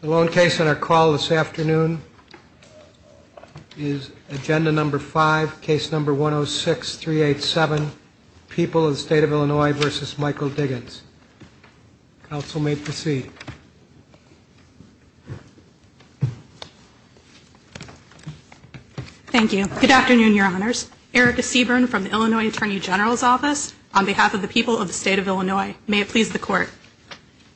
The lone case on our call this afternoon is agenda number five, case number 106387, People of the State of Illinois v. Michael Diggins. Counsel may proceed. Thank you. Good afternoon, Your Honors. Erica Seaburn from the Illinois Attorney General's Office on behalf of the people of the State of Illinois. May it please the court.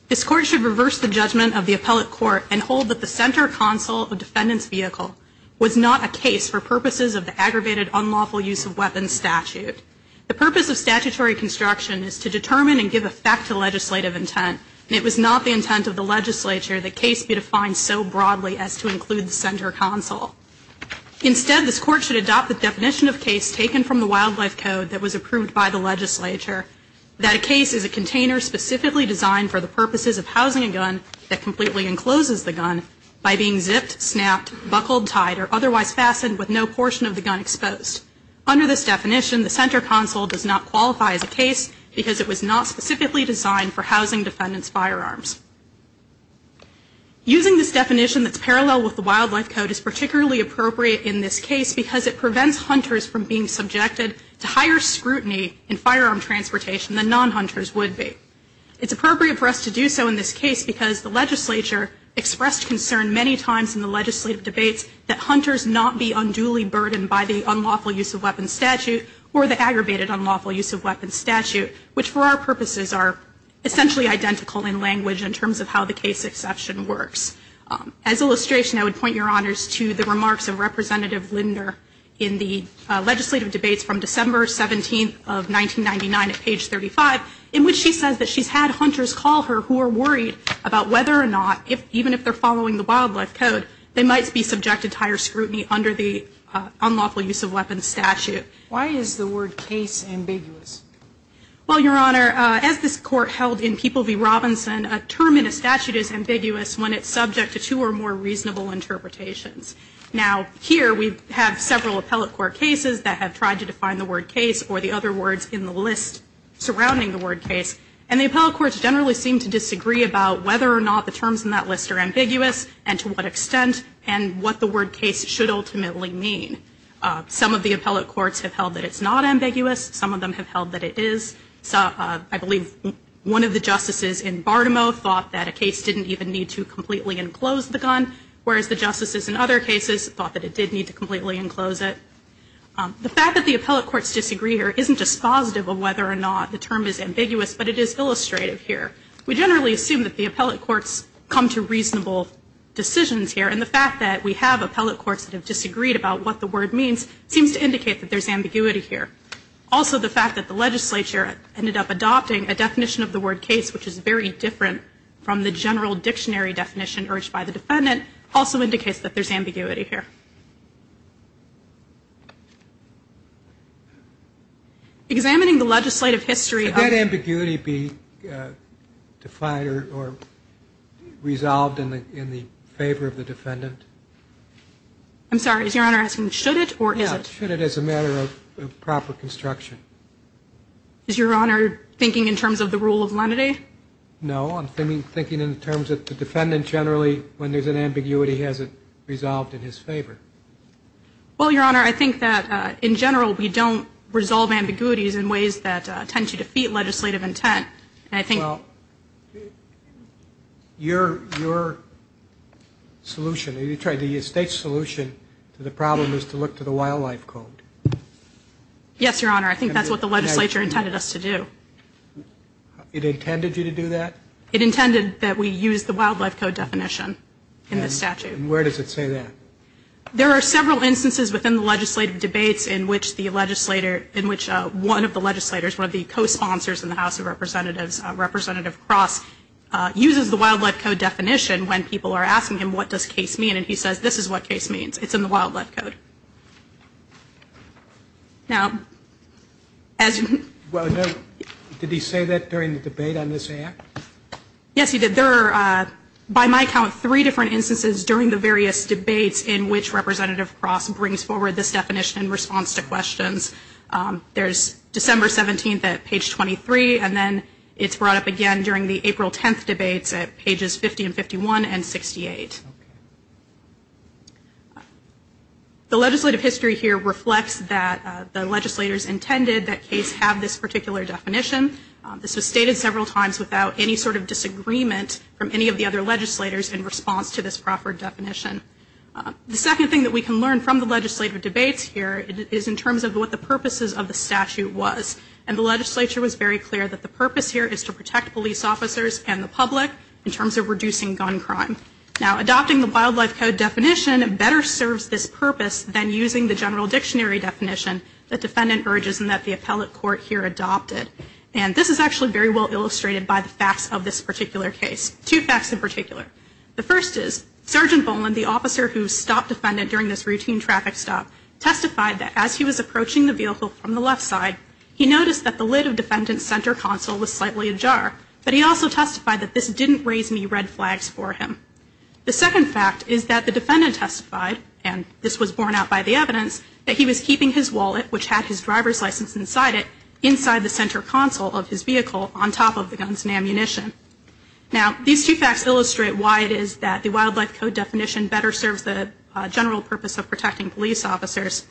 This court should reverse the judgment of the appellate court and hold that the center console of defendants' vehicle was not a case for purposes of the aggravated unlawful use of weapons statute. The purpose of statutory construction is to determine and give effect to legislative intent, and it was not the intent of the legislature that case be defined so broadly as to include the center console. Instead, this court should adopt the definition of case taken from the wildlife code that was approved by the legislature, that a case is a container specifically designed for the purposes of housing a gun that completely encloses the gun by being zipped, snapped, buckled, tied, or otherwise fastened with no portion of the gun exposed. Under this definition, the center console does not qualify as a case because it was not specifically designed for housing defendants' firearms. Using this definition that's parallel with the wildlife code is particularly appropriate in this case because it prevents hunters from being involved in the transportation than non-hunters would be. It's appropriate for us to do so in this case because the legislature expressed concern many times in the legislative debates that hunters not be unduly burdened by the unlawful use of weapons statute or the aggravated unlawful use of weapons statute, which for our purposes are essentially identical in language in terms of how the case exception works. As illustration, I would point Your Honors to the remarks of Representative Linder in the legislative debates from December 17th of 1999 on page 35, in which she says that she's had hunters call her who are worried about whether or not, even if they're following the wildlife code, they might be subjected to higher scrutiny under the unlawful use of weapons statute. Why is the word case ambiguous? Well, Your Honor, as this Court held in People v. Robinson, a term in a statute is ambiguous when it's subject to two or more reasonable interpretations. Now, here we have several appellate court cases that have tried to define the word case or the other words in the list. And the appellate courts generally seem to disagree about whether or not the terms in that list are ambiguous, and to what extent, and what the word case should ultimately mean. Some of the appellate courts have held that it's not ambiguous. Some of them have held that it is. I believe one of the justices in Bartimoe thought that a case didn't even need to completely enclose the gun, and that the term is ambiguous, but it is illustrative here. We generally assume that the appellate courts come to reasonable decisions here, and the fact that we have appellate courts that have disagreed about what the word means seems to indicate that there's ambiguity here. Also, the fact that the legislature ended up adopting a definition of the word case, which is very different from the general dictionary definition urged by the defendant, also indicates that there's ambiguity here. Examining the legislative history of the case. Should that ambiguity be defined or resolved in the favor of the defendant? I'm sorry. Is Your Honor asking should it or is it? Should it as a matter of proper construction? Is Your Honor thinking in terms of the rule of lenity? No. I'm thinking in terms of the defendant generally when there's an ambiguity, has it resolved in his favor? Well, Your Honor, I think that in general we don't resolve ambiguities in ways that tend to defeat legislative intent. And I think the state's solution to the problem is to look to the wildlife code. Yes, Your Honor. I think that's what the legislature intended us to do. It intended you to do that? It intended that we use the wildlife code definition in the statute. And where does it say that? There are several instances within the legislative debates in which one of the legislators, one of the co-sponsors in the House of Representatives, Representative Cross, uses the wildlife code definition when people are asking him what does case mean, and he says this is what case means. It's in the wildlife code. Well, Your Honor, did he say that during the debate on this act? Yes, he did. There are, by my count, three different instances during the various debates in which Representative Cross brings forward this definition in response to questions. There's December 17th at page 23, and then it's brought up again during the April 10th debates at pages 50 and 51 and 68. The legislative history here reflects that the legislators intended that case have this particular definition. This was stated several times without any sort of disagreement from any of the other legislators in response to this proffered definition. The second thing that we can learn from the legislative debates here is in terms of what the purposes of the statute was. And the legislature was very clear that the purpose here is to protect police officers and the public in terms of reducing gun crime. Now, adopting the wildlife code definition better serves this purpose than using the general dictionary definition that defendant urges and that the appellate court here adopted. And this is actually very well illustrated by the facts of this particular case, two facts in particular. The first is, Sergeant Boland, the officer who stopped defendant during this routine traffic stop, testified that as he was approaching the vehicle from the left side, he noticed that the lid of defendant's center console was slightly ajar, but he also testified that this didn't raise any red flags for him. The second fact is that the defendant testified, and this was borne out by the evidence, that he was keeping his wallet, which had his driver's license inside it, inside the center console of his vehicle on top of the guns and ammunition. Now, these two facts illustrate why it is that the wildlife code definition better serves the general purpose of protecting police officers.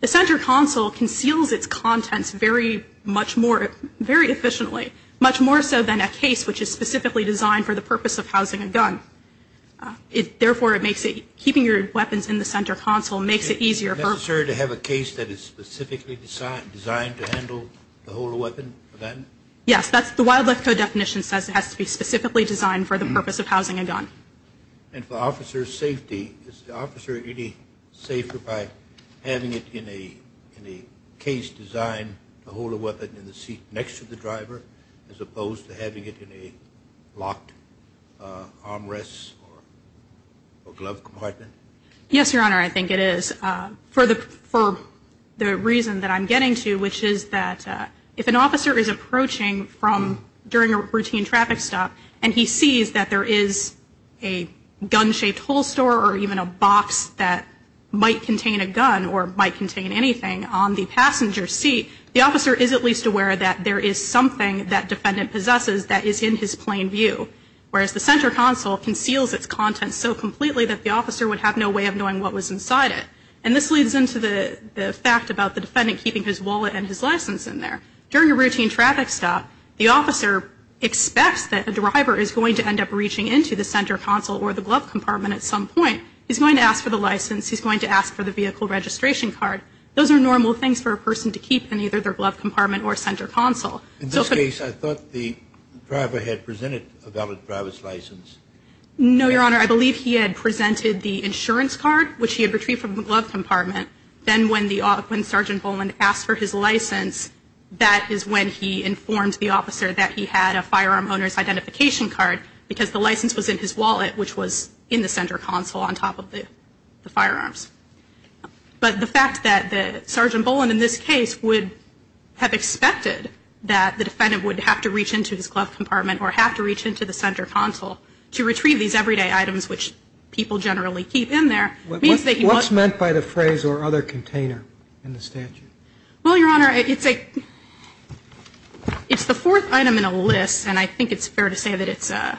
The center console conceals its contents very efficiently, much more so than a case which is specifically designed for the purpose of housing a gun. Therefore, it makes it, keeping your weapons in the center console makes it easier. Is it necessary to have a case that is specifically designed to handle the whole weapon? Yes, the wildlife code definition says it has to be specifically designed for the purpose of housing a gun. And for officer's safety, is the officer any safer by having it in a case designed to hold a weapon in the seat next to the driver? As opposed to having it in a locked armrest or glove compartment? Yes, Your Honor, I think it is. For the reason that I'm getting to, which is that if an officer is approaching during a routine traffic stop and he sees that there is a gun-shaped holster or even a box that might contain a gun or might contain anything on the passenger seat, the officer is at least aware that there is something that defendant possesses that is in his plain view. Whereas the center console conceals its contents so completely that the officer would have no way of knowing what was inside it. And this leads into the fact about the defendant keeping his wallet and his license in there. During a routine traffic stop, the officer expects that a driver is going to end up reaching into the center console or the glove compartment at some point. He's going to ask for the license. He's going to ask for the vehicle registration card. Those are normal things for a person to keep in either their glove compartment or center console. In this case, I thought the driver had presented a valid driver's license. No, Your Honor. I believe he had presented the insurance card, which he had retrieved from the glove compartment. Then when Sergeant Bowman asked for his license, that is when he informed the officer that he had a firearm owner's identification card because the license was in his wallet, which was in the center console on top of the firearms. But the fact that Sergeant Bowman in this case would have expected that the defendant would have to reach into his glove compartment or have to reach into the center console to retrieve these everyday items, which people generally keep in there, means that he was. What's meant by the phrase or other container in the statute? Well, Your Honor, it's the fourth item in a list. And I think it's fair to say that it's a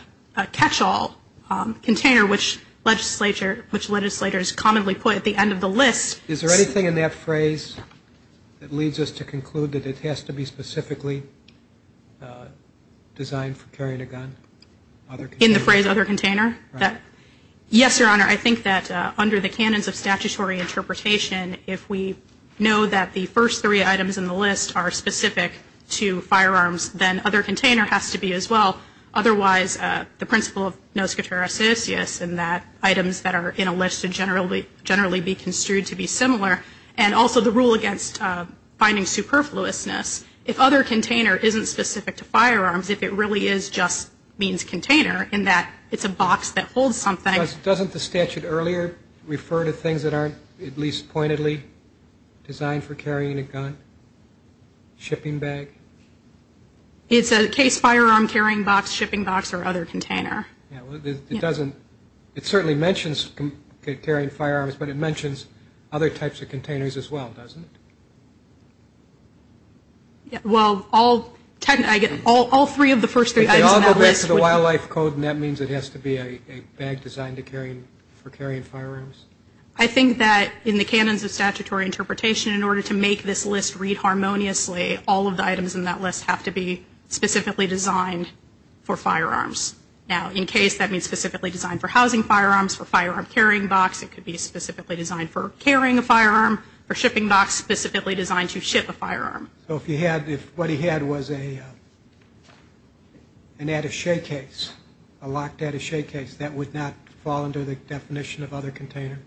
catch-all container, which legislators commonly put at the end of the list. Is there anything in that phrase that leads us to conclude that it has to be specifically designed for carrying a gun? In the phrase other container? Yes, Your Honor. I think that under the canons of statutory interpretation, if we know that the first three items in the list are specific to firearms, then other container has to be as well. Otherwise, the principle of nos quatera sus, yes, in that items that are in a list should generally be construed to be similar. And also the rule against finding superfluousness, if other container isn't specific to firearms, if it really is just means container in that it's a box that holds something. Doesn't the statute earlier refer to things that aren't at least pointedly designed for carrying a gun? Shipping bag? It's a case firearm carrying box, shipping box, or other container. It doesn't. It certainly mentions carrying firearms, but it mentions other types of containers as well, doesn't it? Well, all three of the first three items in that list. They all go back to the wildlife code, and that means it has to be a bag designed for carrying firearms. I think that in the canons of statutory interpretation, in order to make this list read harmoniously, all of the items in that list have to be specifically designed for firearms. Now, in case that means specifically designed for housing firearms, for firearm carrying box, it could be specifically designed for carrying a firearm, for shipping box specifically designed to ship a firearm. So if what he had was an attache case, a locked attache case, that would not fall under the definition of other container?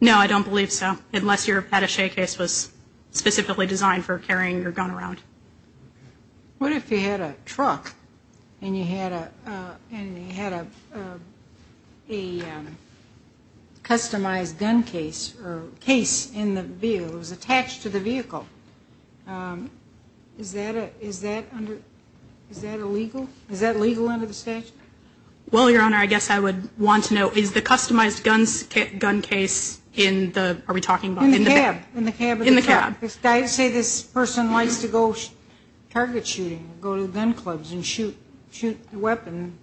No, I don't believe so. Unless your attache case was specifically designed for carrying your gun around. What if you had a truck and you had a customized gun case or case in the vehicle, it was attached to the vehicle? Is that illegal? Is that legal under the statute? Well, Your Honor, I guess I would want to know, is the customized gun case in the, are we talking about? In the cab. In the cab. In the cab. Say this person likes to go target shooting, go to the gun clubs and shoot the weapon,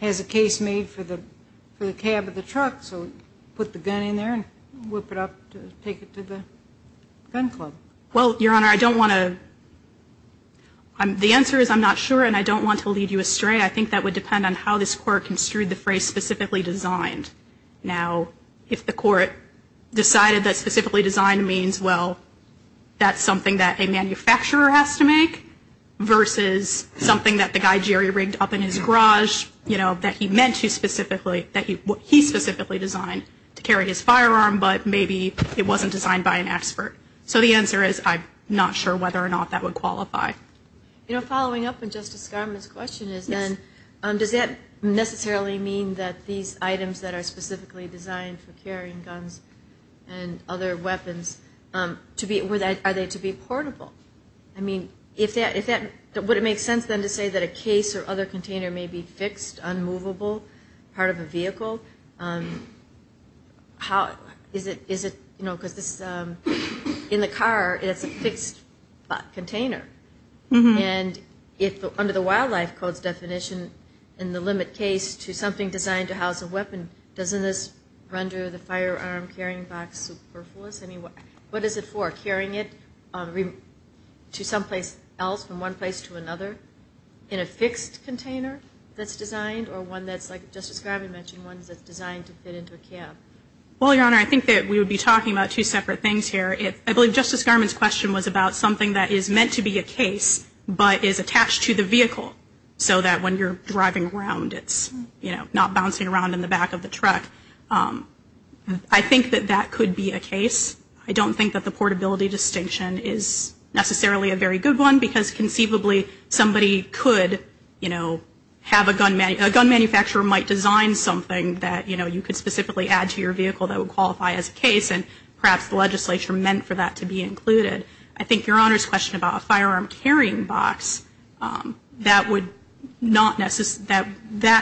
has a case made for the cab of the truck, so put the gun in there and whip it up to take it to the gun club. Well, Your Honor, I don't want to, the answer is I'm not sure and I don't want to lead you astray. I think that would depend on how this Court construed the phrase specifically designed. Now, if the Court decided that specifically designed means, well, that's something that a manufacturer has to make, versus something that the guy Jerry rigged up in his garage, you know, that he meant to specifically, that he specifically designed to carry his firearm, but maybe it wasn't designed by an expert. So the answer is I'm not sure whether or not that would qualify. You know, following up on Justice Garment's question is then, does that necessarily mean that these items that are specifically designed for carrying guns and other weapons, are they to be portable? I mean, would it make sense then to say that a case or other container may be fixed, unmovable, part of a vehicle? Is it, you know, because in the car, it's a fixed container. And under the Wildlife Code's definition, in the limit case to something designed to house a weapon, doesn't this render the firearm carrying box superfluous? I mean, what is it for? Carrying it to someplace else from one place to another in a fixed container that's designed or one that's like Justice Garment mentioned, one that's designed to fit into a cab? Well, Your Honor, I think that we would be talking about two separate things here. I believe Justice Garment's question was about something that is meant to be a case but is attached to the vehicle so that when you're driving around, it's not bouncing around in the back of the truck. I think that that could be a case. I don't think that the portability distinction is necessarily a very good one because conceivably somebody could, you know, have a gun manufacturer, might design something that, you know, you could specifically add to your vehicle that would qualify as a case and perhaps the legislature meant for that to be included. I think Your Honor's question about a firearm carrying box, that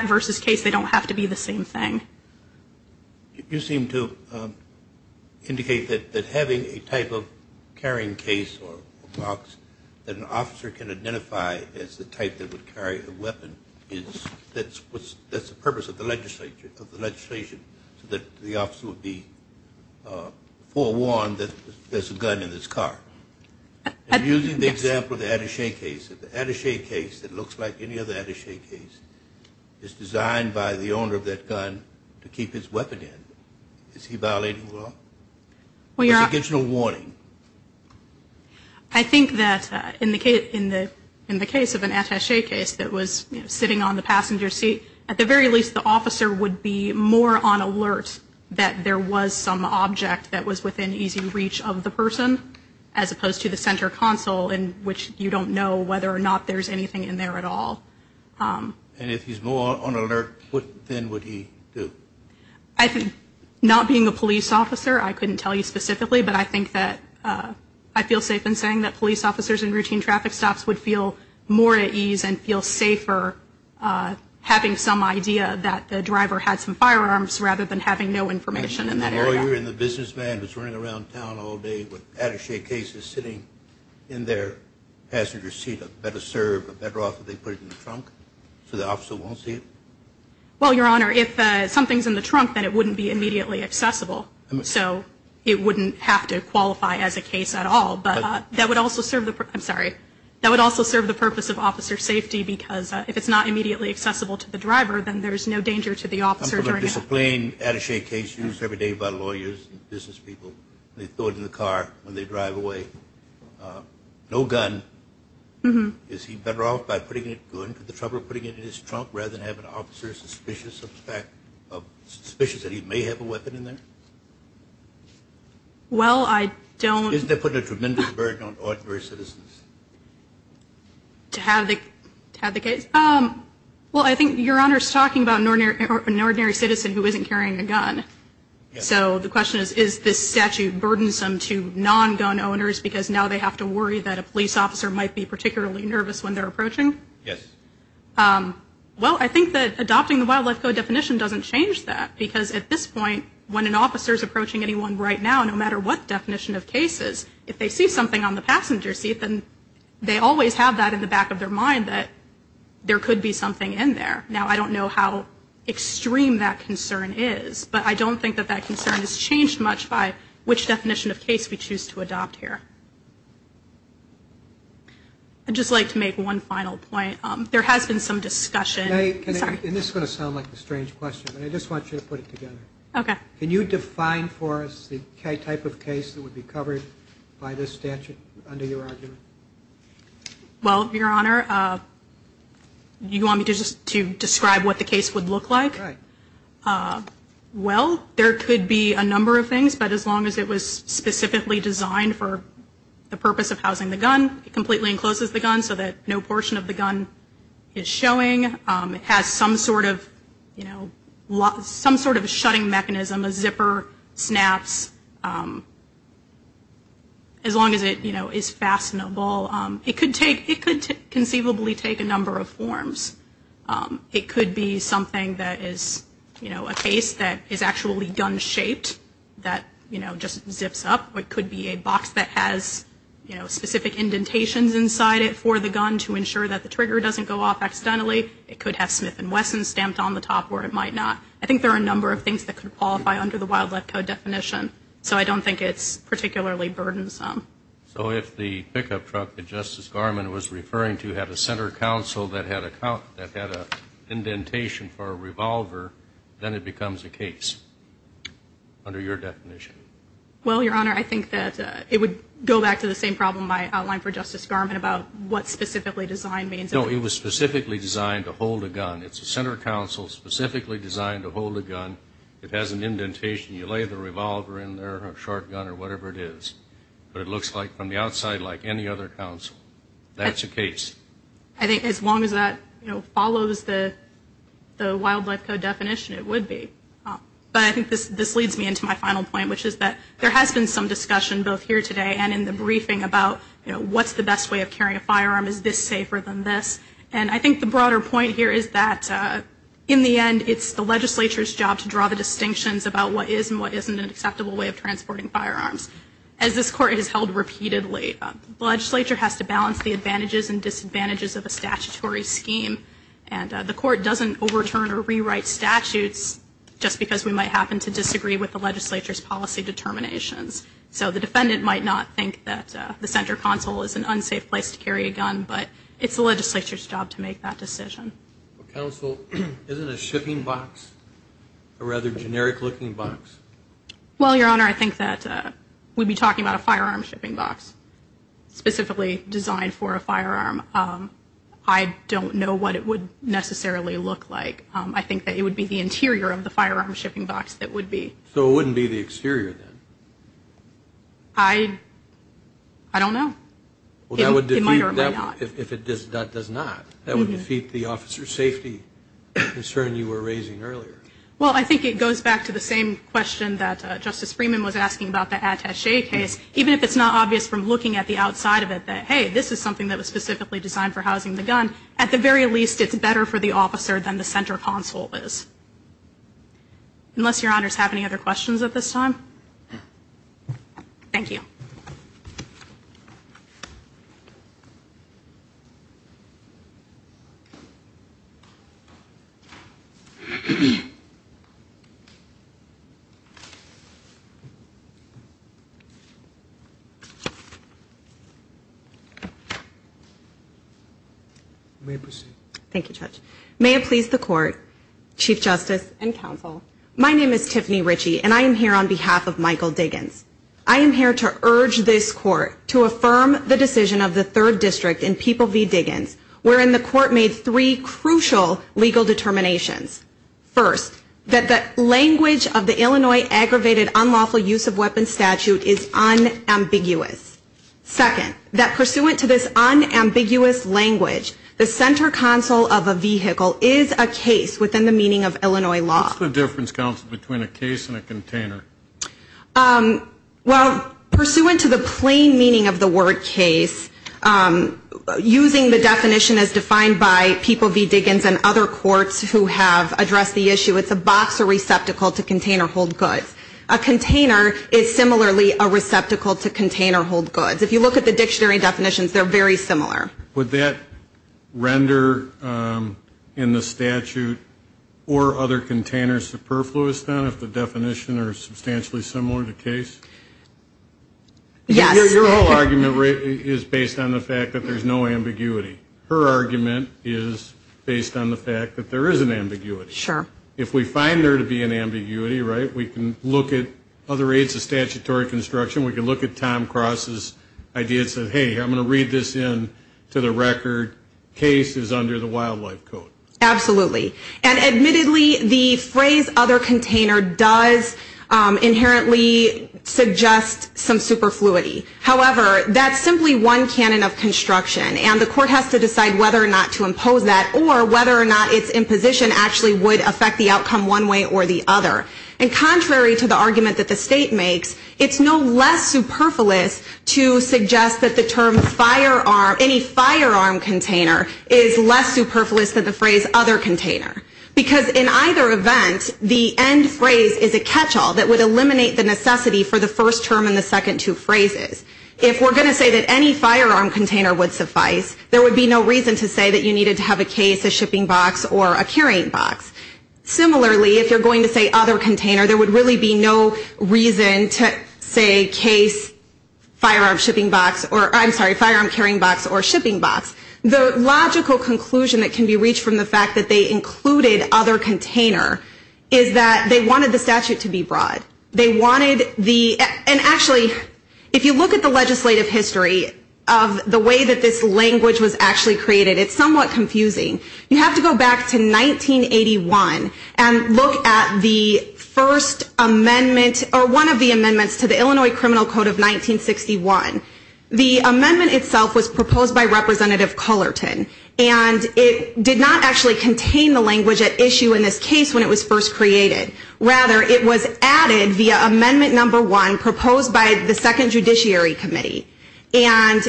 versus case, they don't have to be the same thing. You seem to indicate that having a type of carrying case or box that an officer can identify as the type that would carry a weapon, that's the purpose of the legislature, of the legislation, so that the officer would be forewarned that there's a gun in his car. Using the example of the Attaché case, the Attaché case that looks like any other Attaché case, is designed by the owner of that gun to keep his weapon in. Is he violating the law? He gives no warning. I think that in the case of an Attaché case that was sitting on the passenger seat, at the very least the officer would be more on alert that there was some object that was within easy reach of the person, as opposed to the center console in which you don't know whether or not there's anything in there at all. And if he's more on alert, what then would he do? I think not being a police officer, I couldn't tell you specifically, but I think that I feel safe in saying that police officers in routine traffic stops would feel more at ease and feel safer having some idea that the driver had some firearms rather than having no information in that area. And the lawyer and the businessman was running around town all day with Attaché cases sitting in their passenger seat, a better serve, a better offer, they put it in the trunk, so the officer won't see it? Well, Your Honor, if something's in the trunk, then it wouldn't be immediately accessible. So it wouldn't have to qualify as a case at all. But that would also serve the purpose of officer safety, because if it's not immediately accessible to the driver, then there's no danger to the officer. I'm going to discipline Attaché cases every day by lawyers and business people. They throw it in the car when they drive away. No gun. Is he better off by putting it in the trunk rather than have an officer suspicious that he may have a weapon in there? Well, I don't. Isn't that putting a tremendous burden on ordinary citizens? To have the case? Well, I think Your Honor is talking about an ordinary citizen who isn't carrying a gun. So the question is, is this statute burdensome to non-gun owners because now they have to worry that a police officer might be particularly nervous when they're approaching? Yes. Well, I think that adopting the wildlife code definition doesn't change that, because at this point, when an officer is approaching anyone right now, no matter what definition of case is, if they see something on the passenger seat, then they always have that in the back of their mind that there could be something in there. Now, I don't know how extreme that concern is, but I don't think that that concern is changed much by which definition of case we choose to adopt here. I'd just like to make one final point. There has been some discussion. And this is going to sound like a strange question, but I just want you to put it together. Okay. Can you define for us the type of case that would be covered by this statute under your argument? Well, Your Honor, you want me to describe what the case would look like? Right. Well, there could be a number of things, but as long as it was specifically designed for the purpose of housing the gun, it completely encloses the gun so that no portion of the gun is showing. It has some sort of, you know, some sort of shutting mechanism, a zipper, snaps, as long as it, you know, is fastenable. It could conceivably take a number of forms. It could be something that is, you know, a case that is actually gun-shaped that, you know, just zips up. It could be a box that has, you know, specific indentations inside it for the gun to ensure that the trigger doesn't go off accidentally. It could have Smith & Wesson stamped on the top where it might not. I think there are a number of things that could qualify under the Wild Left Code definition, so I don't think it's particularly burdensome. So if the pickup truck that Justice Garment was referring to had a center counsel that had an indentation for a revolver, then it becomes a case under your definition? Well, Your Honor, I think that it would go back to the same problem I outlined for Justice Garment about what specifically design means. No, it was specifically designed to hold a gun. It's a center counsel specifically designed to hold a gun. It has an indentation. You lay the revolver in there or a shotgun or whatever it is, but it looks like from the outside like any other counsel. That's a case. I think as long as that, you know, follows the Wild Left Code definition, it would be. But I think this leads me into my final point, which is that there has been some discussion both here today and in the briefing about, you know, what's the best way of carrying a firearm? Is this safer than this? And I think the broader point here is that in the end, it's the legislature's job to draw the distinctions about what is and what isn't an acceptable way of transporting firearms. As this Court has held repeatedly, the legislature has to balance the advantages and disadvantages of a statutory scheme, and the Court doesn't overturn or rewrite statutes just because we might happen to disagree with the legislature's policy determinations. So the defendant might not think that the center counsel is an unsafe place to carry a gun, but it's the legislature's job to make that decision. Counsel, isn't a shipping box a rather generic looking box? Well, Your Honor, I think that we'd be talking about a firearm shipping box, specifically designed for a firearm. I don't know what it would necessarily look like. I think that it would be the interior of the firearm shipping box that would be. So it wouldn't be the exterior then? I don't know. It might or might not. If it does not, that would defeat the officer's safety concern you were raising earlier. Well, I think it goes back to the same question that Justice Freeman was asking about the attache case. Even if it's not obvious from looking at the outside of it that, hey, this is something that was specifically designed for housing the gun, at the very least it's better for the officer than the center counsel is. Unless Your Honors have any other questions at this time. Thank you. You may proceed. Thank you, Judge. May it please the Court, Chief Justice, and Counsel, My name is Tiffany Ritchie, and I am here on behalf of Michael Diggins. I am here to urge this Court to affirm the decision of the Third District and People v. Diggins wherein the Court made three crucial legal determinations. First, that the language of the Illinois Aggravated Unlawful Use of Weapons Statute is unambiguous. Second, that pursuant to this unambiguous language, the center counsel of a vehicle is a case within the meaning of Illinois law. What's the difference, Counsel, between a case and a container? Well, pursuant to the plain meaning of the word case, using the definition as defined by People v. Diggins and other courts who have addressed the issue, it's a box or receptacle to container hold goods. A container is similarly a receptacle to container hold goods. If you look at the dictionary definitions, they're very similar. Would that render in the statute or other containers superfluous, then, if the definitions are substantially similar to case? Yes. Your whole argument is based on the fact that there's no ambiguity. Her argument is based on the fact that there is an ambiguity. Sure. If we find there to be an ambiguity, right, we can look at other aides of statutory construction. We can look at Tom Cross's idea and say, hey, I'm going to read this in to the record. Case is under the wildlife code. Absolutely. And admittedly, the phrase other container does inherently suggest some superfluity. However, that's simply one canon of construction, and the court has to decide whether or not to impose that or whether or not its imposition actually would affect the outcome one way or the other. And contrary to the argument that the state makes, it's no less superfluous to suggest that the term firearm, any firearm container is less superfluous than the phrase other container. Because in either event, the end phrase is a catchall that would eliminate the necessity for the first term and the second two phrases. If we're going to say that any firearm container would suffice, there would be no reason to say that you needed to have a case, a shipping box, or a carrying box. Similarly, if you're going to say other container, there would really be no reason to say case, firearm shipping box, or I'm sorry, firearm carrying box or shipping box. The logical conclusion that can be reached from the fact that they included other container is that they wanted the statute to be broad. They wanted the, and actually, if you look at the legislative history of the way that this language was actually created, it's somewhat confusing. You have to go back to 1981 and look at the first amendment, or one of the amendments to the Illinois Criminal Code of 1961. The amendment itself was proposed by Representative Cullerton, and it did not actually contain the language at issue in this case when it was first created. Rather, it was added via Amendment No. 1 proposed by the Second Judiciary Committee. And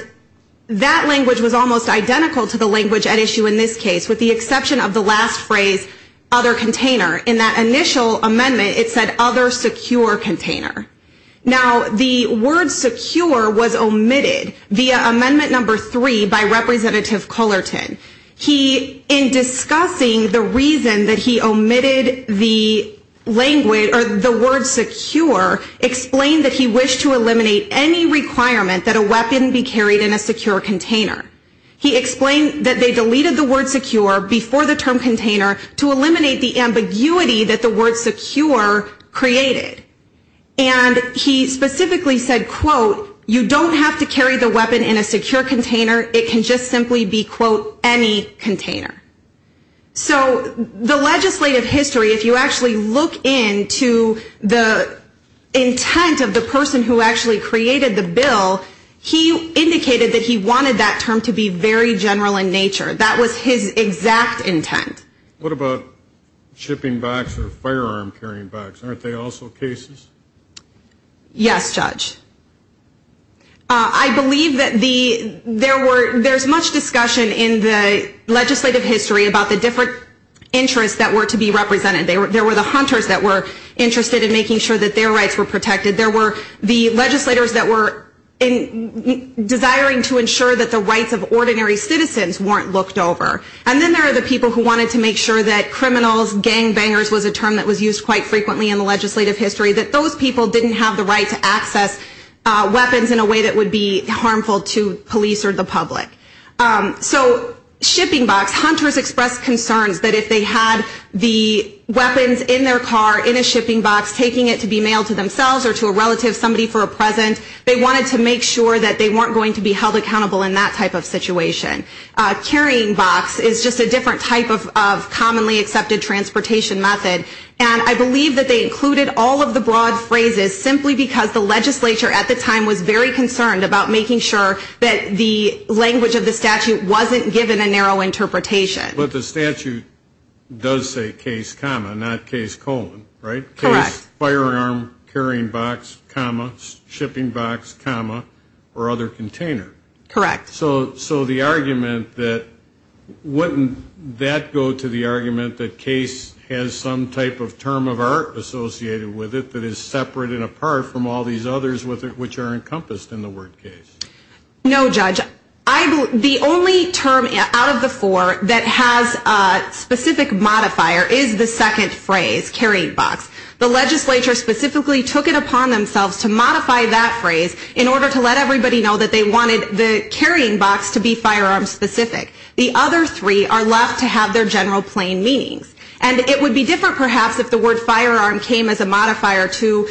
that language was almost identical to the language at issue in this case, with the exception of the last phrase, other container. In that initial amendment, it said other secure container. Now, the word secure was omitted via Amendment No. 3 by Representative Cullerton. He, in discussing the reason that he omitted the language, or the word secure, explained that he wished to eliminate any requirement that a weapon be carried in a secure container. He explained that they deleted the word secure before the term container to eliminate the ambiguity that the word secure created. And he specifically said, quote, you don't have to carry the weapon in a secure container. It can just simply be, quote, any container. So the legislative history, if you actually look into the intent of the person who actually created the bill, he indicated that he wanted that term to be very general in nature. That was his exact intent. What about shipping bags or firearm carrying bags? Aren't they also cases? Yes, Judge. I believe that there's much discussion in the legislative history about the different interests that were to be represented. There were the hunters that were interested in making sure that their rights were protected. There were the legislators that were desiring to ensure that the rights of ordinary citizens weren't looked over. And then there are the people who wanted to make sure that criminals, gangbangers, was a term that was used quite frequently in the legislative history, that those people didn't have the right to access weapons in a way that would be harmful to police or the public. So shipping box, hunters expressed concerns that if they had the weapons in their car in a shipping box, taking it to be mailed to themselves or to a relative, somebody for a present, they wanted to make sure that they weren't going to be held accountable in that type of situation. Carrying box is just a different type of commonly accepted transportation method. And I believe that they included all of the broad phrases simply because the legislature at the time was very concerned about making sure that the language of the statute wasn't given a narrow interpretation. But the statute does say case, comma, not case, colon, right? Correct. Case, firearm, carrying box, comma, shipping box, comma, or other container. Correct. So the argument that wouldn't that go to the argument that case has some type of term of art associated with it that is separate and apart from all these others which are encompassed in the word case? No, Judge. The only term out of the four that has a specific modifier is the second phrase, carrying box. The legislature specifically took it upon themselves to modify that phrase in order to let everybody know that they wanted the carrying box to be firearm specific. The other three are left to have their general plain meanings. And it would be different perhaps if the word firearm came as a modifier to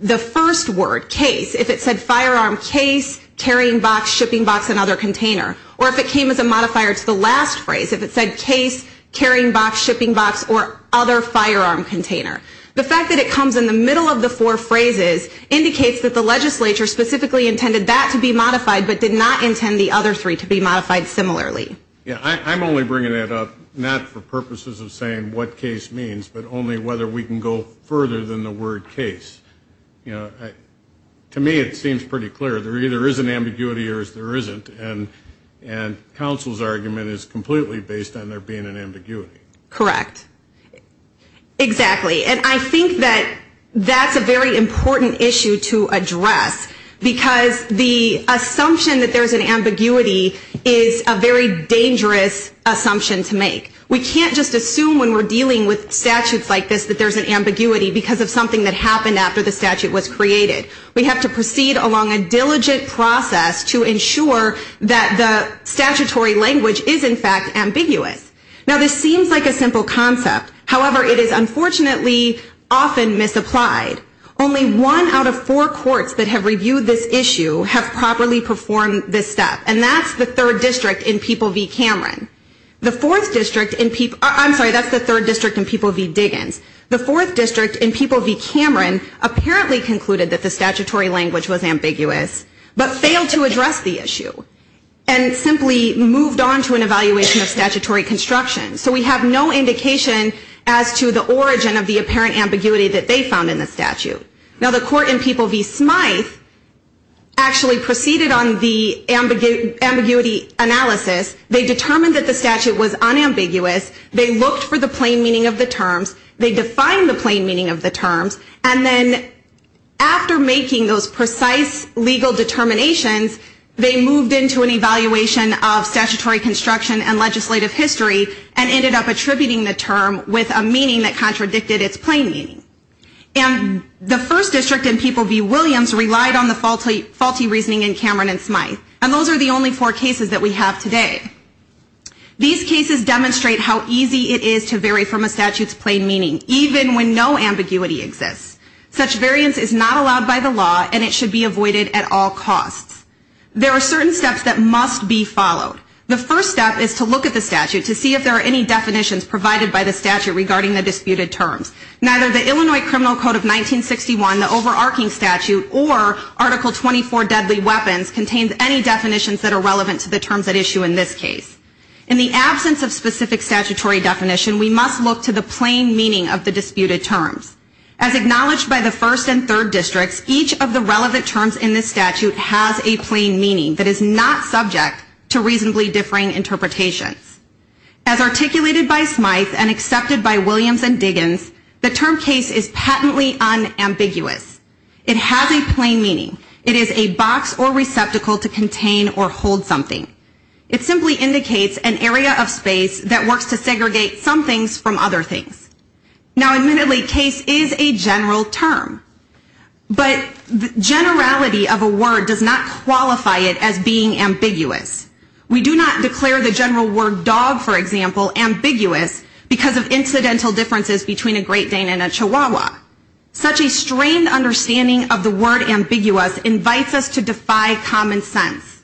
the first word, case, if it said firearm, case, carrying box, shipping box, and other container. Or if it came as a modifier to the last phrase, if it said case, carrying box, shipping box, or other firearm container. The fact that it comes in the middle of the four phrases indicates that the legislature specifically intended that to be modified but did not intend the other three to be modified similarly. I'm only bringing that up not for purposes of saying what case means, but only whether we can go further than the word case. To me it seems pretty clear. There either is an ambiguity or there isn't. And counsel's argument is completely based on there being an ambiguity. Correct. Exactly. And I think that that's a very important issue to address. Because the assumption that there's an ambiguity is a very dangerous assumption to make. We can't just assume when we're dealing with statutes like this that there's an ambiguity because of something that happened after the statute was created. We have to proceed along a diligent process to ensure that the statutory language is in fact ambiguous. Now this seems like a simple concept. However, it is unfortunately often misapplied. Only one out of four courts that have reviewed this issue have properly performed this step. And that's the third district in People v. Cameron. The fourth district in People v. Diggins. The fourth district in People v. Cameron apparently concluded that the statutory language was ambiguous but failed to address the issue and simply moved on to an evaluation of statutory construction. So we have no indication as to the origin of the apparent ambiguity that they found in the statute. Now the court in People v. Smythe actually proceeded on the ambiguity analysis. They determined that the statute was unambiguous. They looked for the plain meaning of the terms. They defined the plain meaning of the terms. And then after making those precise legal determinations, they moved into an evaluation of statutory construction and legislative history and ended up attributing the term with a meaning that contradicted its plain meaning. And the first district in People v. Williams relied on the faulty reasoning in Cameron and Smythe. And those are the only four cases that we have today. These cases demonstrate how easy it is to vary from a statute's plain meaning, even when no ambiguity exists. Such variance is not allowed by the law and it should be avoided at all costs. There are certain steps that must be followed. The first step is to look at the statute to see if there are any definitions provided by the statute regarding the disputed terms. Neither the Illinois Criminal Code of 1961, the overarching statute, or Article 24, Deadly Weapons, contains any definitions that are relevant to the terms at issue in this case. In the absence of specific statutory definition, we must look to the plain meaning of the disputed terms. As acknowledged by the first and third districts, each of the relevant terms in this statute has a plain meaning that is not subject to reasonably differing interpretations. As articulated by Smythe and accepted by Williams and Diggins, the term case is patently unambiguous. It has a plain meaning. It is a box or receptacle to contain or hold something. It simply indicates an area of space that works to segregate some things from other things. Now, admittedly, case is a general term. But generality of a word does not qualify it as being ambiguous. We do not declare the general word dog, for example, ambiguous because of incidental differences between a Great Dane and a Chihuahua. Such a strained understanding of the word ambiguous invites us to defy common sense.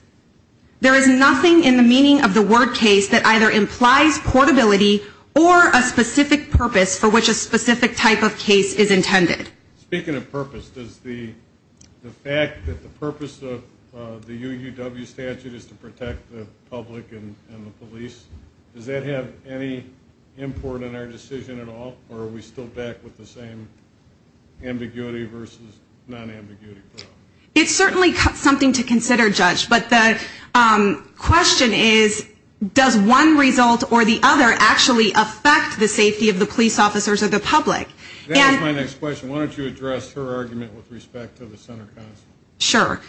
There is nothing in the meaning of the word case that either implies portability or a specific purpose for which a specific type of case is intended. Speaking of purpose, does the fact that the purpose of the UUW statute is to protect the public and the police, does that have any import in our decision at all, or are we still back with the same ambiguity versus non-ambiguity? It's certainly something to consider, Judge, but the question is, does one result or the other actually affect the safety of the police officers or the public? That is my next question. Why don't you address her argument with respect to the center concept? Sure.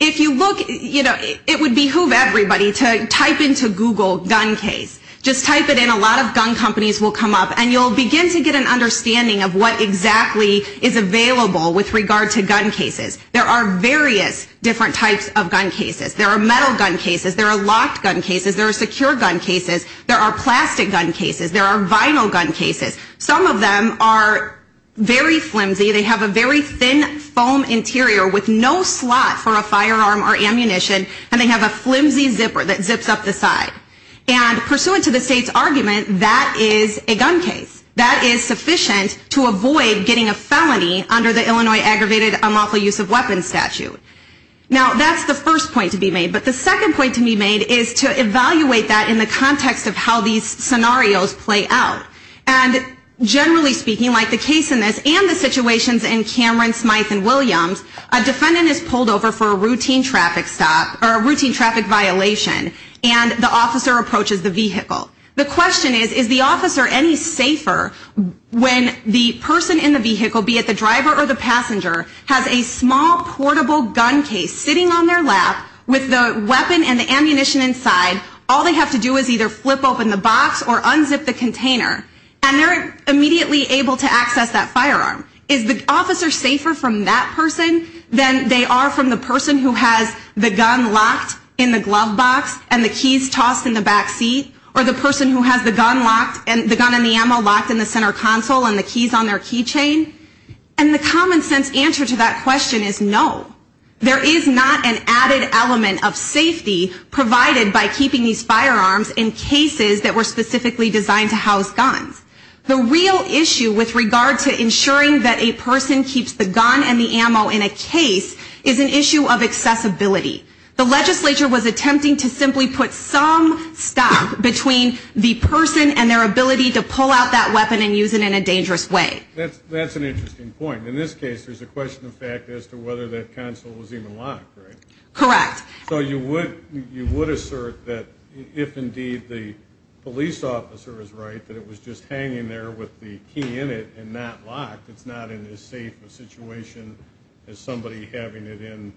If you look, you know, it would behoove everybody to type into Google gun case. Just type it in. A lot of gun companies will come up. And you'll begin to get an understanding of what exactly is available with regard to gun cases. There are various different types of gun cases. There are metal gun cases. There are locked gun cases. There are secure gun cases. There are plastic gun cases. There are vinyl gun cases. Some of them are very flimsy. They have a very thin foam interior with no slot for a firearm or ammunition, and they have a flimsy zipper that zips up the side. And pursuant to the state's argument, that is a gun case. That is sufficient to avoid getting a felony under the Illinois Aggravated Unlawful Use of Weapons statute. Now, that's the first point to be made. But the second point to be made is to evaluate that in the context of how these scenarios play out. And generally speaking, like the case in this and the situations in Cameron, Smyth, and Williams, a defendant is pulled over for a routine traffic stop or a routine traffic violation, and the officer approaches the vehicle. The question is, is the officer any safer when the person in the vehicle, be it the driver or the passenger, has a small portable gun case sitting on their lap with the weapon and the ammunition inside? All they have to do is either flip open the box or unzip the container, and they're immediately able to access that firearm. Is the officer safer from that person than they are from the person who has the gun locked in the glove box and the keys tossed in the back seat? Or the person who has the gun locked and the gun and the ammo locked in the center console and the keys on their key chain? And the common sense answer to that question is no. There is not an added element of safety provided by keeping these firearms in cases that were specifically designed to house guns. The real issue with regard to ensuring that a person keeps the gun and the ammo in a case is an issue of accessibility. The legislature was attempting to simply put some stop between the person and their ability to pull out that weapon and use it in a dangerous way. That's an interesting point. In this case, there's a question of fact as to whether that console was even locked, right? Correct. So you would assert that if indeed the police officer is right, that it was just hanging there with the key in it and not locked, it's not in as safe a situation as somebody having it in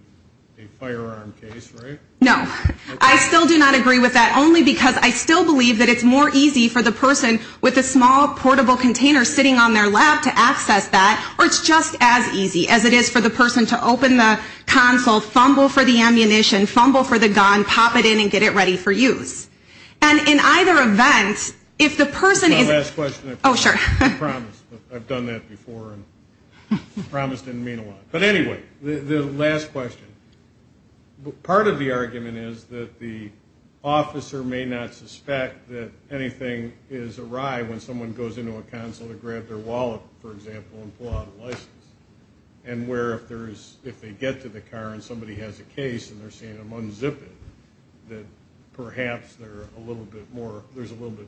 a firearm case, right? No. I still do not agree with that only because I still believe that it's more easy for the person with a small portable container sitting on their lap to access that, or it's just as easy as it is for the person to open the console, fumble for the ammunition, fumble for the gun, pop it in, and get it ready for use. And in either event, if the person is ‑‑ Can I ask a question? Oh, sure. I promise. I've done that before. I promise it didn't mean a lot. But anyway, the last question. Part of the argument is that the officer may not suspect that anything is awry when someone goes into a console to grab their wallet, for example, and pull out a license, and where if they get to the car and somebody has a case and they're seeing them unzip it, that perhaps there's a little bit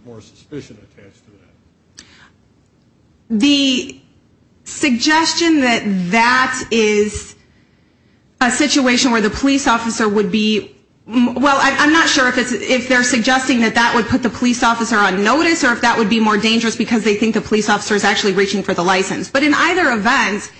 more suspicion attached to that. The suggestion that that is a situation where the police officer would be ‑‑ well, I'm not sure if they're suggesting that that would put the police officer on notice or if that would be more dangerous because they think the police officer is actually reaching for the license. But in either event,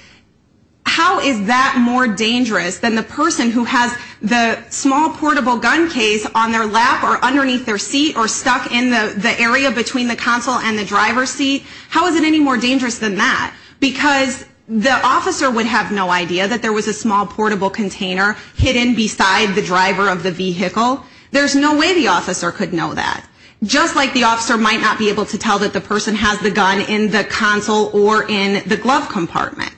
how is that more dangerous than the person who has the small, portable gun case on their lap or underneath their seat or stuck in the area between the console and the driver's seat? How is it any more dangerous than that? Because the officer would have no idea that there was a small, portable container hidden beside the driver of the vehicle. There's no way the officer could know that. Just like the officer might not be able to tell that the person has the gun in the console or in the glove compartment.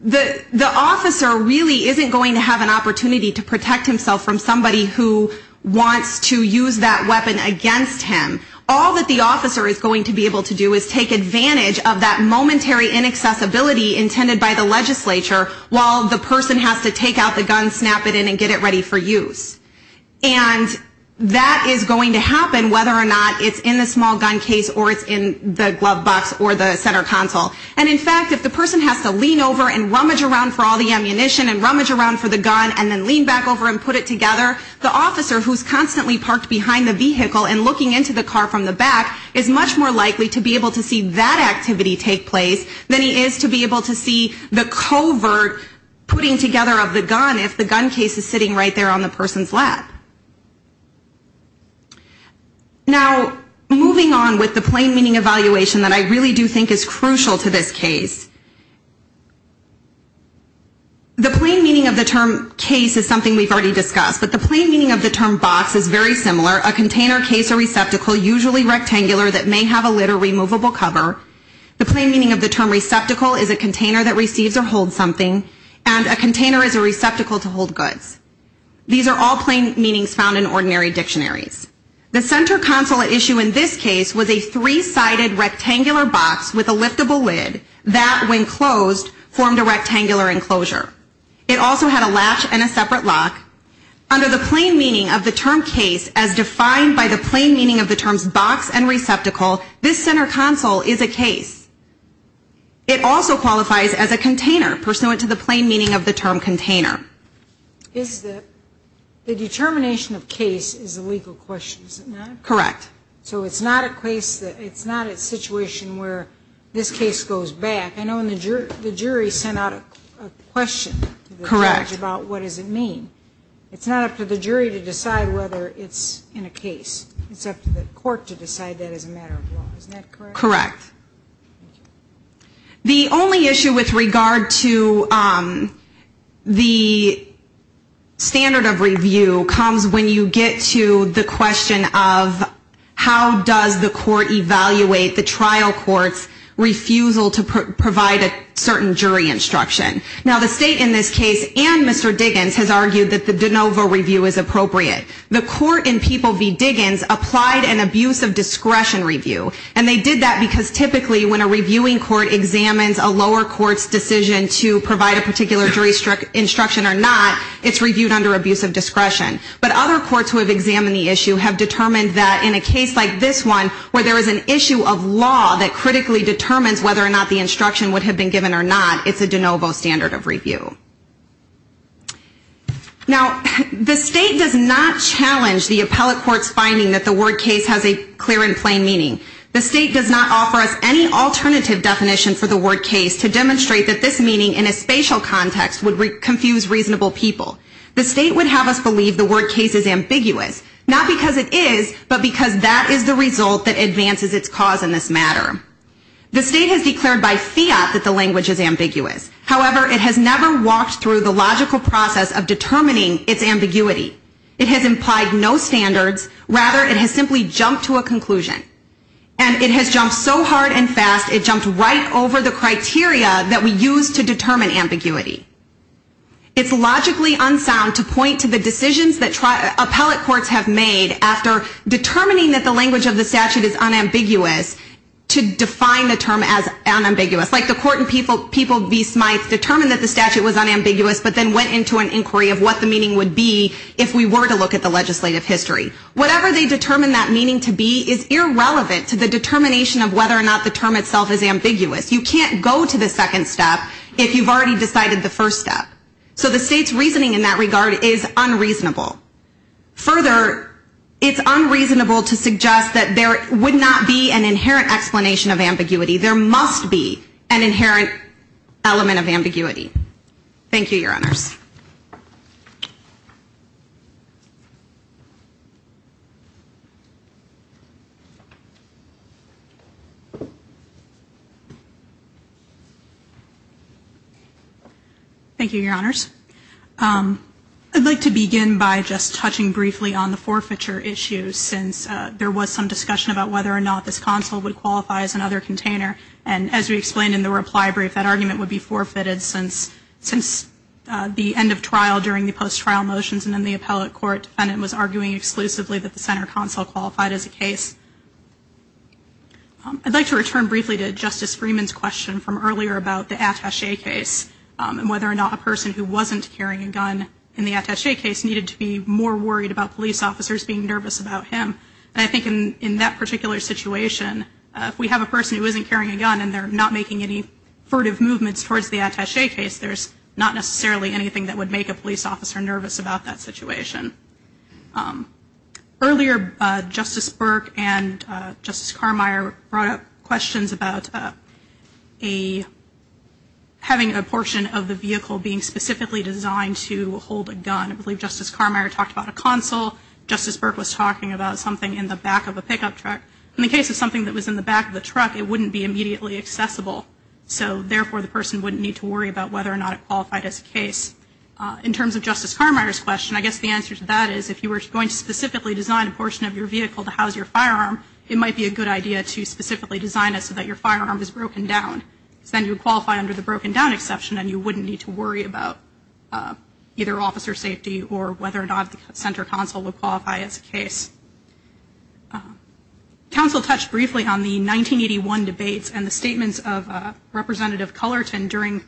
The officer really isn't going to have an opportunity to protect himself from somebody who wants to use that weapon against him. All that the officer is going to be able to do is take advantage of that momentary inaccessibility intended by the legislature while the person has to take out the gun, snap it in, and get it ready for use. And that is going to happen whether or not it's in the small gun case or it's in the glove box or the center console. And, in fact, if the person has to lean over and rummage around for all the ammunition and rummage around for the gun and then lean back over and put it together, the officer who's constantly parked behind the vehicle and looking into the car from the back is much more likely to be able to see that activity take place than he is to be able to see the covert putting together of the gun if the gun case is sitting right there on the person's lap. Now, moving on with the plain meaning evaluation that I really do think is crucial to this case. The plain meaning of the term case is something we've already discussed, but the plain meaning of the term box is very similar. A container, case, or receptacle, usually rectangular that may have a lid or removable cover. And a container is a receptacle to hold goods. These are all plain meanings found in ordinary dictionaries. The center console at issue in this case was a three-sided rectangular box with a liftable lid that, when closed, formed a rectangular enclosure. It also had a latch and a separate lock. Under the plain meaning of the term case as defined by the plain meaning of the terms box and receptacle, this center console is a case. It also qualifies as a container, pursuant to the plain meaning of the term container. The determination of case is a legal question, is it not? Correct. So it's not a case that it's not a situation where this case goes back. I know the jury sent out a question to the judge about what does it mean. It's not up to the jury to decide whether it's in a case. It's up to the court to decide that as a matter of law. Is that correct? Correct. The only issue with regard to the standard of review comes when you get to the question of how does the court evaluate the trial court's refusal to provide a certain jury instruction. Now, the state in this case and Mr. Diggins has argued that the de novo review is appropriate. The court in People v. Diggins applied an abuse of discretion review. And they did that because typically when a reviewing court examines a lower court's decision to provide a particular jury instruction or not, it's reviewed under abuse of discretion. But other courts who have examined the issue have determined that in a case like this one where there is an issue of law that critically determines whether or not the instruction would have been given or not, it's a de novo standard of review. Now, the state does not challenge the appellate court's finding that the word case has a clear and plain meaning. The state does not offer us any alternative definition for the word case to demonstrate that this meaning in a spatial context would confuse reasonable people. The state would have us believe the word case is ambiguous, not because it is, but because that is the result that advances its cause in this matter. The state has declared by fiat that the language is ambiguous. However, it has never walked through the logical process of determining its ambiguity. It has implied no standards. Rather, it has simply jumped to a conclusion. And it has jumped so hard and fast, it jumped right over the criteria that we use to determine ambiguity. It's logically unsound to point to the decisions that appellate courts have made after determining that the language of the statute is unambiguous to define the term as unambiguous. Like the court in Peoples v. Smyth determined that the statute was unambiguous, but then went into an inquiry of what the meaning would be if we were to look at the legislative history. Whatever they determined that meaning to be is irrelevant to the determination of whether or not the term itself is ambiguous. You can't go to the second step if you've already decided the first step. So the state's reasoning in that regard is unreasonable. Further, it's unreasonable to suggest that there would not be an inherent explanation of ambiguity. There must be an inherent element of ambiguity. Thank you, Your Honors. Thank you, Your Honors. I'd like to begin by just touching briefly on the forfeiture issue, since there was some discussion about whether or not this console would And as we explained in the reply brief, that argument would be forfeited since the end of trial during the post-trial motions and then the appellate court defendant was arguing exclusively that the center console qualified as a case. I'd like to return briefly to Justice Freeman's question from earlier about the attache case and whether or not a person who wasn't carrying a gun in the attache case needed to be more worried about police officers being nervous about him. And I think in that particular situation, if we have a person who isn't carrying a gun and they're not making any furtive movements towards the attache case, there's not necessarily anything that would make a police officer nervous about that situation. Earlier, Justice Burke and Justice Carmeier brought up questions about having a portion of the vehicle being specifically designed to hold a gun. I believe Justice Carmeier talked about a console. Justice Burke was talking about something in the back of a pickup truck. In the case of something that was in the back of the truck, it wouldn't be immediately accessible. So therefore, the person wouldn't need to worry about whether or not it qualified as a case. In terms of Justice Carmeier's question, I guess the answer to that is if you were going to specifically design a portion of your vehicle to house your firearm, it might be a good idea to specifically design it so that your firearm is broken down. Because then you would qualify under the broken down exception and you wouldn't need to worry about either officer safety or whether or not the officer console would qualify as a case. Counsel touched briefly on the 1981 debates and the statements of Representative Cullerton during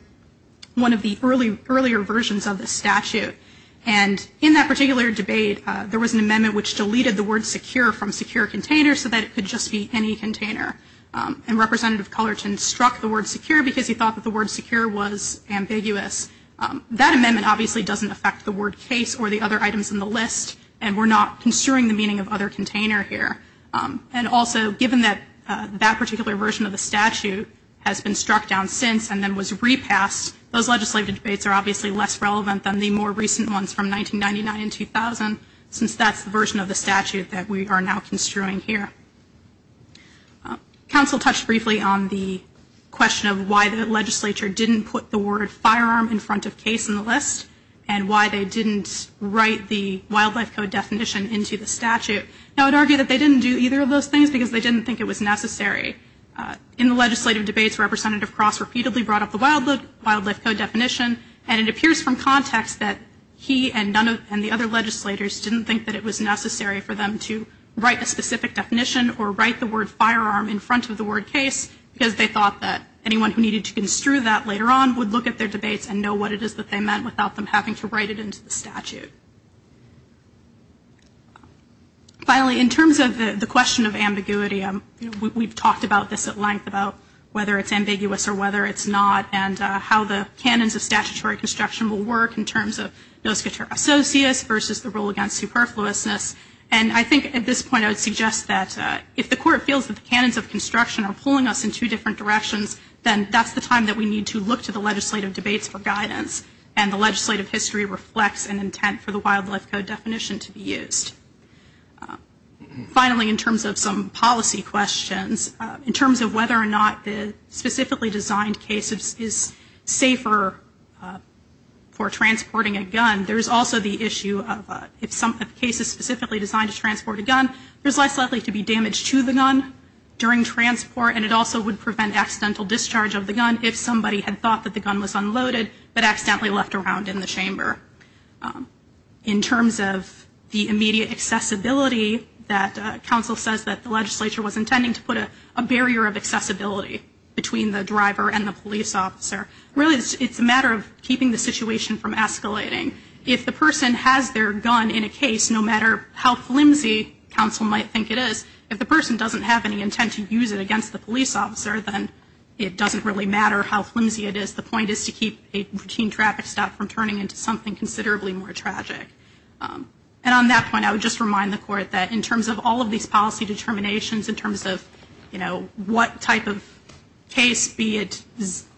one of the earlier versions of the statute. And in that particular debate, there was an amendment which deleted the word secure from secure container so that it could just be any container. And Representative Cullerton struck the word secure because he thought that the word secure was ambiguous. That amendment obviously doesn't affect the word case or the other items in the list, and we're not construing the meaning of other container here. And also, given that that particular version of the statute has been struck down since and then was repassed, those legislative debates are obviously less relevant than the more recent ones from 1999 and 2000 since that's the version of the statute that we are now construing here. Counsel touched briefly on the question of why the legislature didn't put the word firearm in front of case in the list and why they didn't write the wildlife code definition into the statute. Now, I would argue that they didn't do either of those things because they didn't think it was necessary. In the legislative debates, Representative Cross repeatedly brought up the wildlife code definition, and it appears from context that he and the other legislators didn't think that it was necessary for them to write a specific definition or write the word firearm in front of the word case because they later on would look at their debates and know what it is that they meant without them having to write it into the statute. Finally, in terms of the question of ambiguity, we've talked about this at length, about whether it's ambiguous or whether it's not, and how the canons of statutory construction will work in terms of noscator associates versus the rule against superfluousness. And I think at this point I would suggest that if the court feels that the time that we need to look to the legislative debates for guidance and the legislative history reflects an intent for the wildlife code definition to be used. Finally, in terms of some policy questions, in terms of whether or not the specifically designed case is safer for transporting a gun, there's also the issue of if the case is specifically designed to transport a gun, there's less likely to be damage to the gun during transport, and it also would prevent accidental discharge of the gun if somebody had thought that the gun was unloaded but accidentally left around in the chamber. In terms of the immediate accessibility that counsel says that the legislature was intending to put a barrier of accessibility between the driver and the police officer, really it's a matter of keeping the situation from escalating. If the person has their gun in a case, no matter how flimsy counsel might think it is, if the person doesn't have any intent to use it against the police officer, then it doesn't really matter how flimsy it is. The point is to keep a routine traffic stop from turning into something considerably more tragic. And on that point, I would just remind the court that in terms of all of these policy determinations, in terms of, you know, what type of case, be it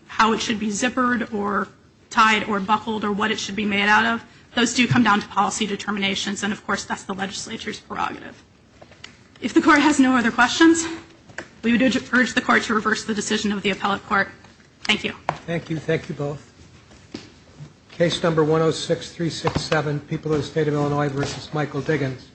how it should be zippered or tied or buckled or what it should be made out of, those do come down to policy determinations, and, of course, that's the legislature's prerogative. If the court has no other questions, we would urge the court to reverse the decision of the appellate court. Thank you. Thank you. Thank you both. Case number 106367, People of the State of Illinois v. Michael Diggins.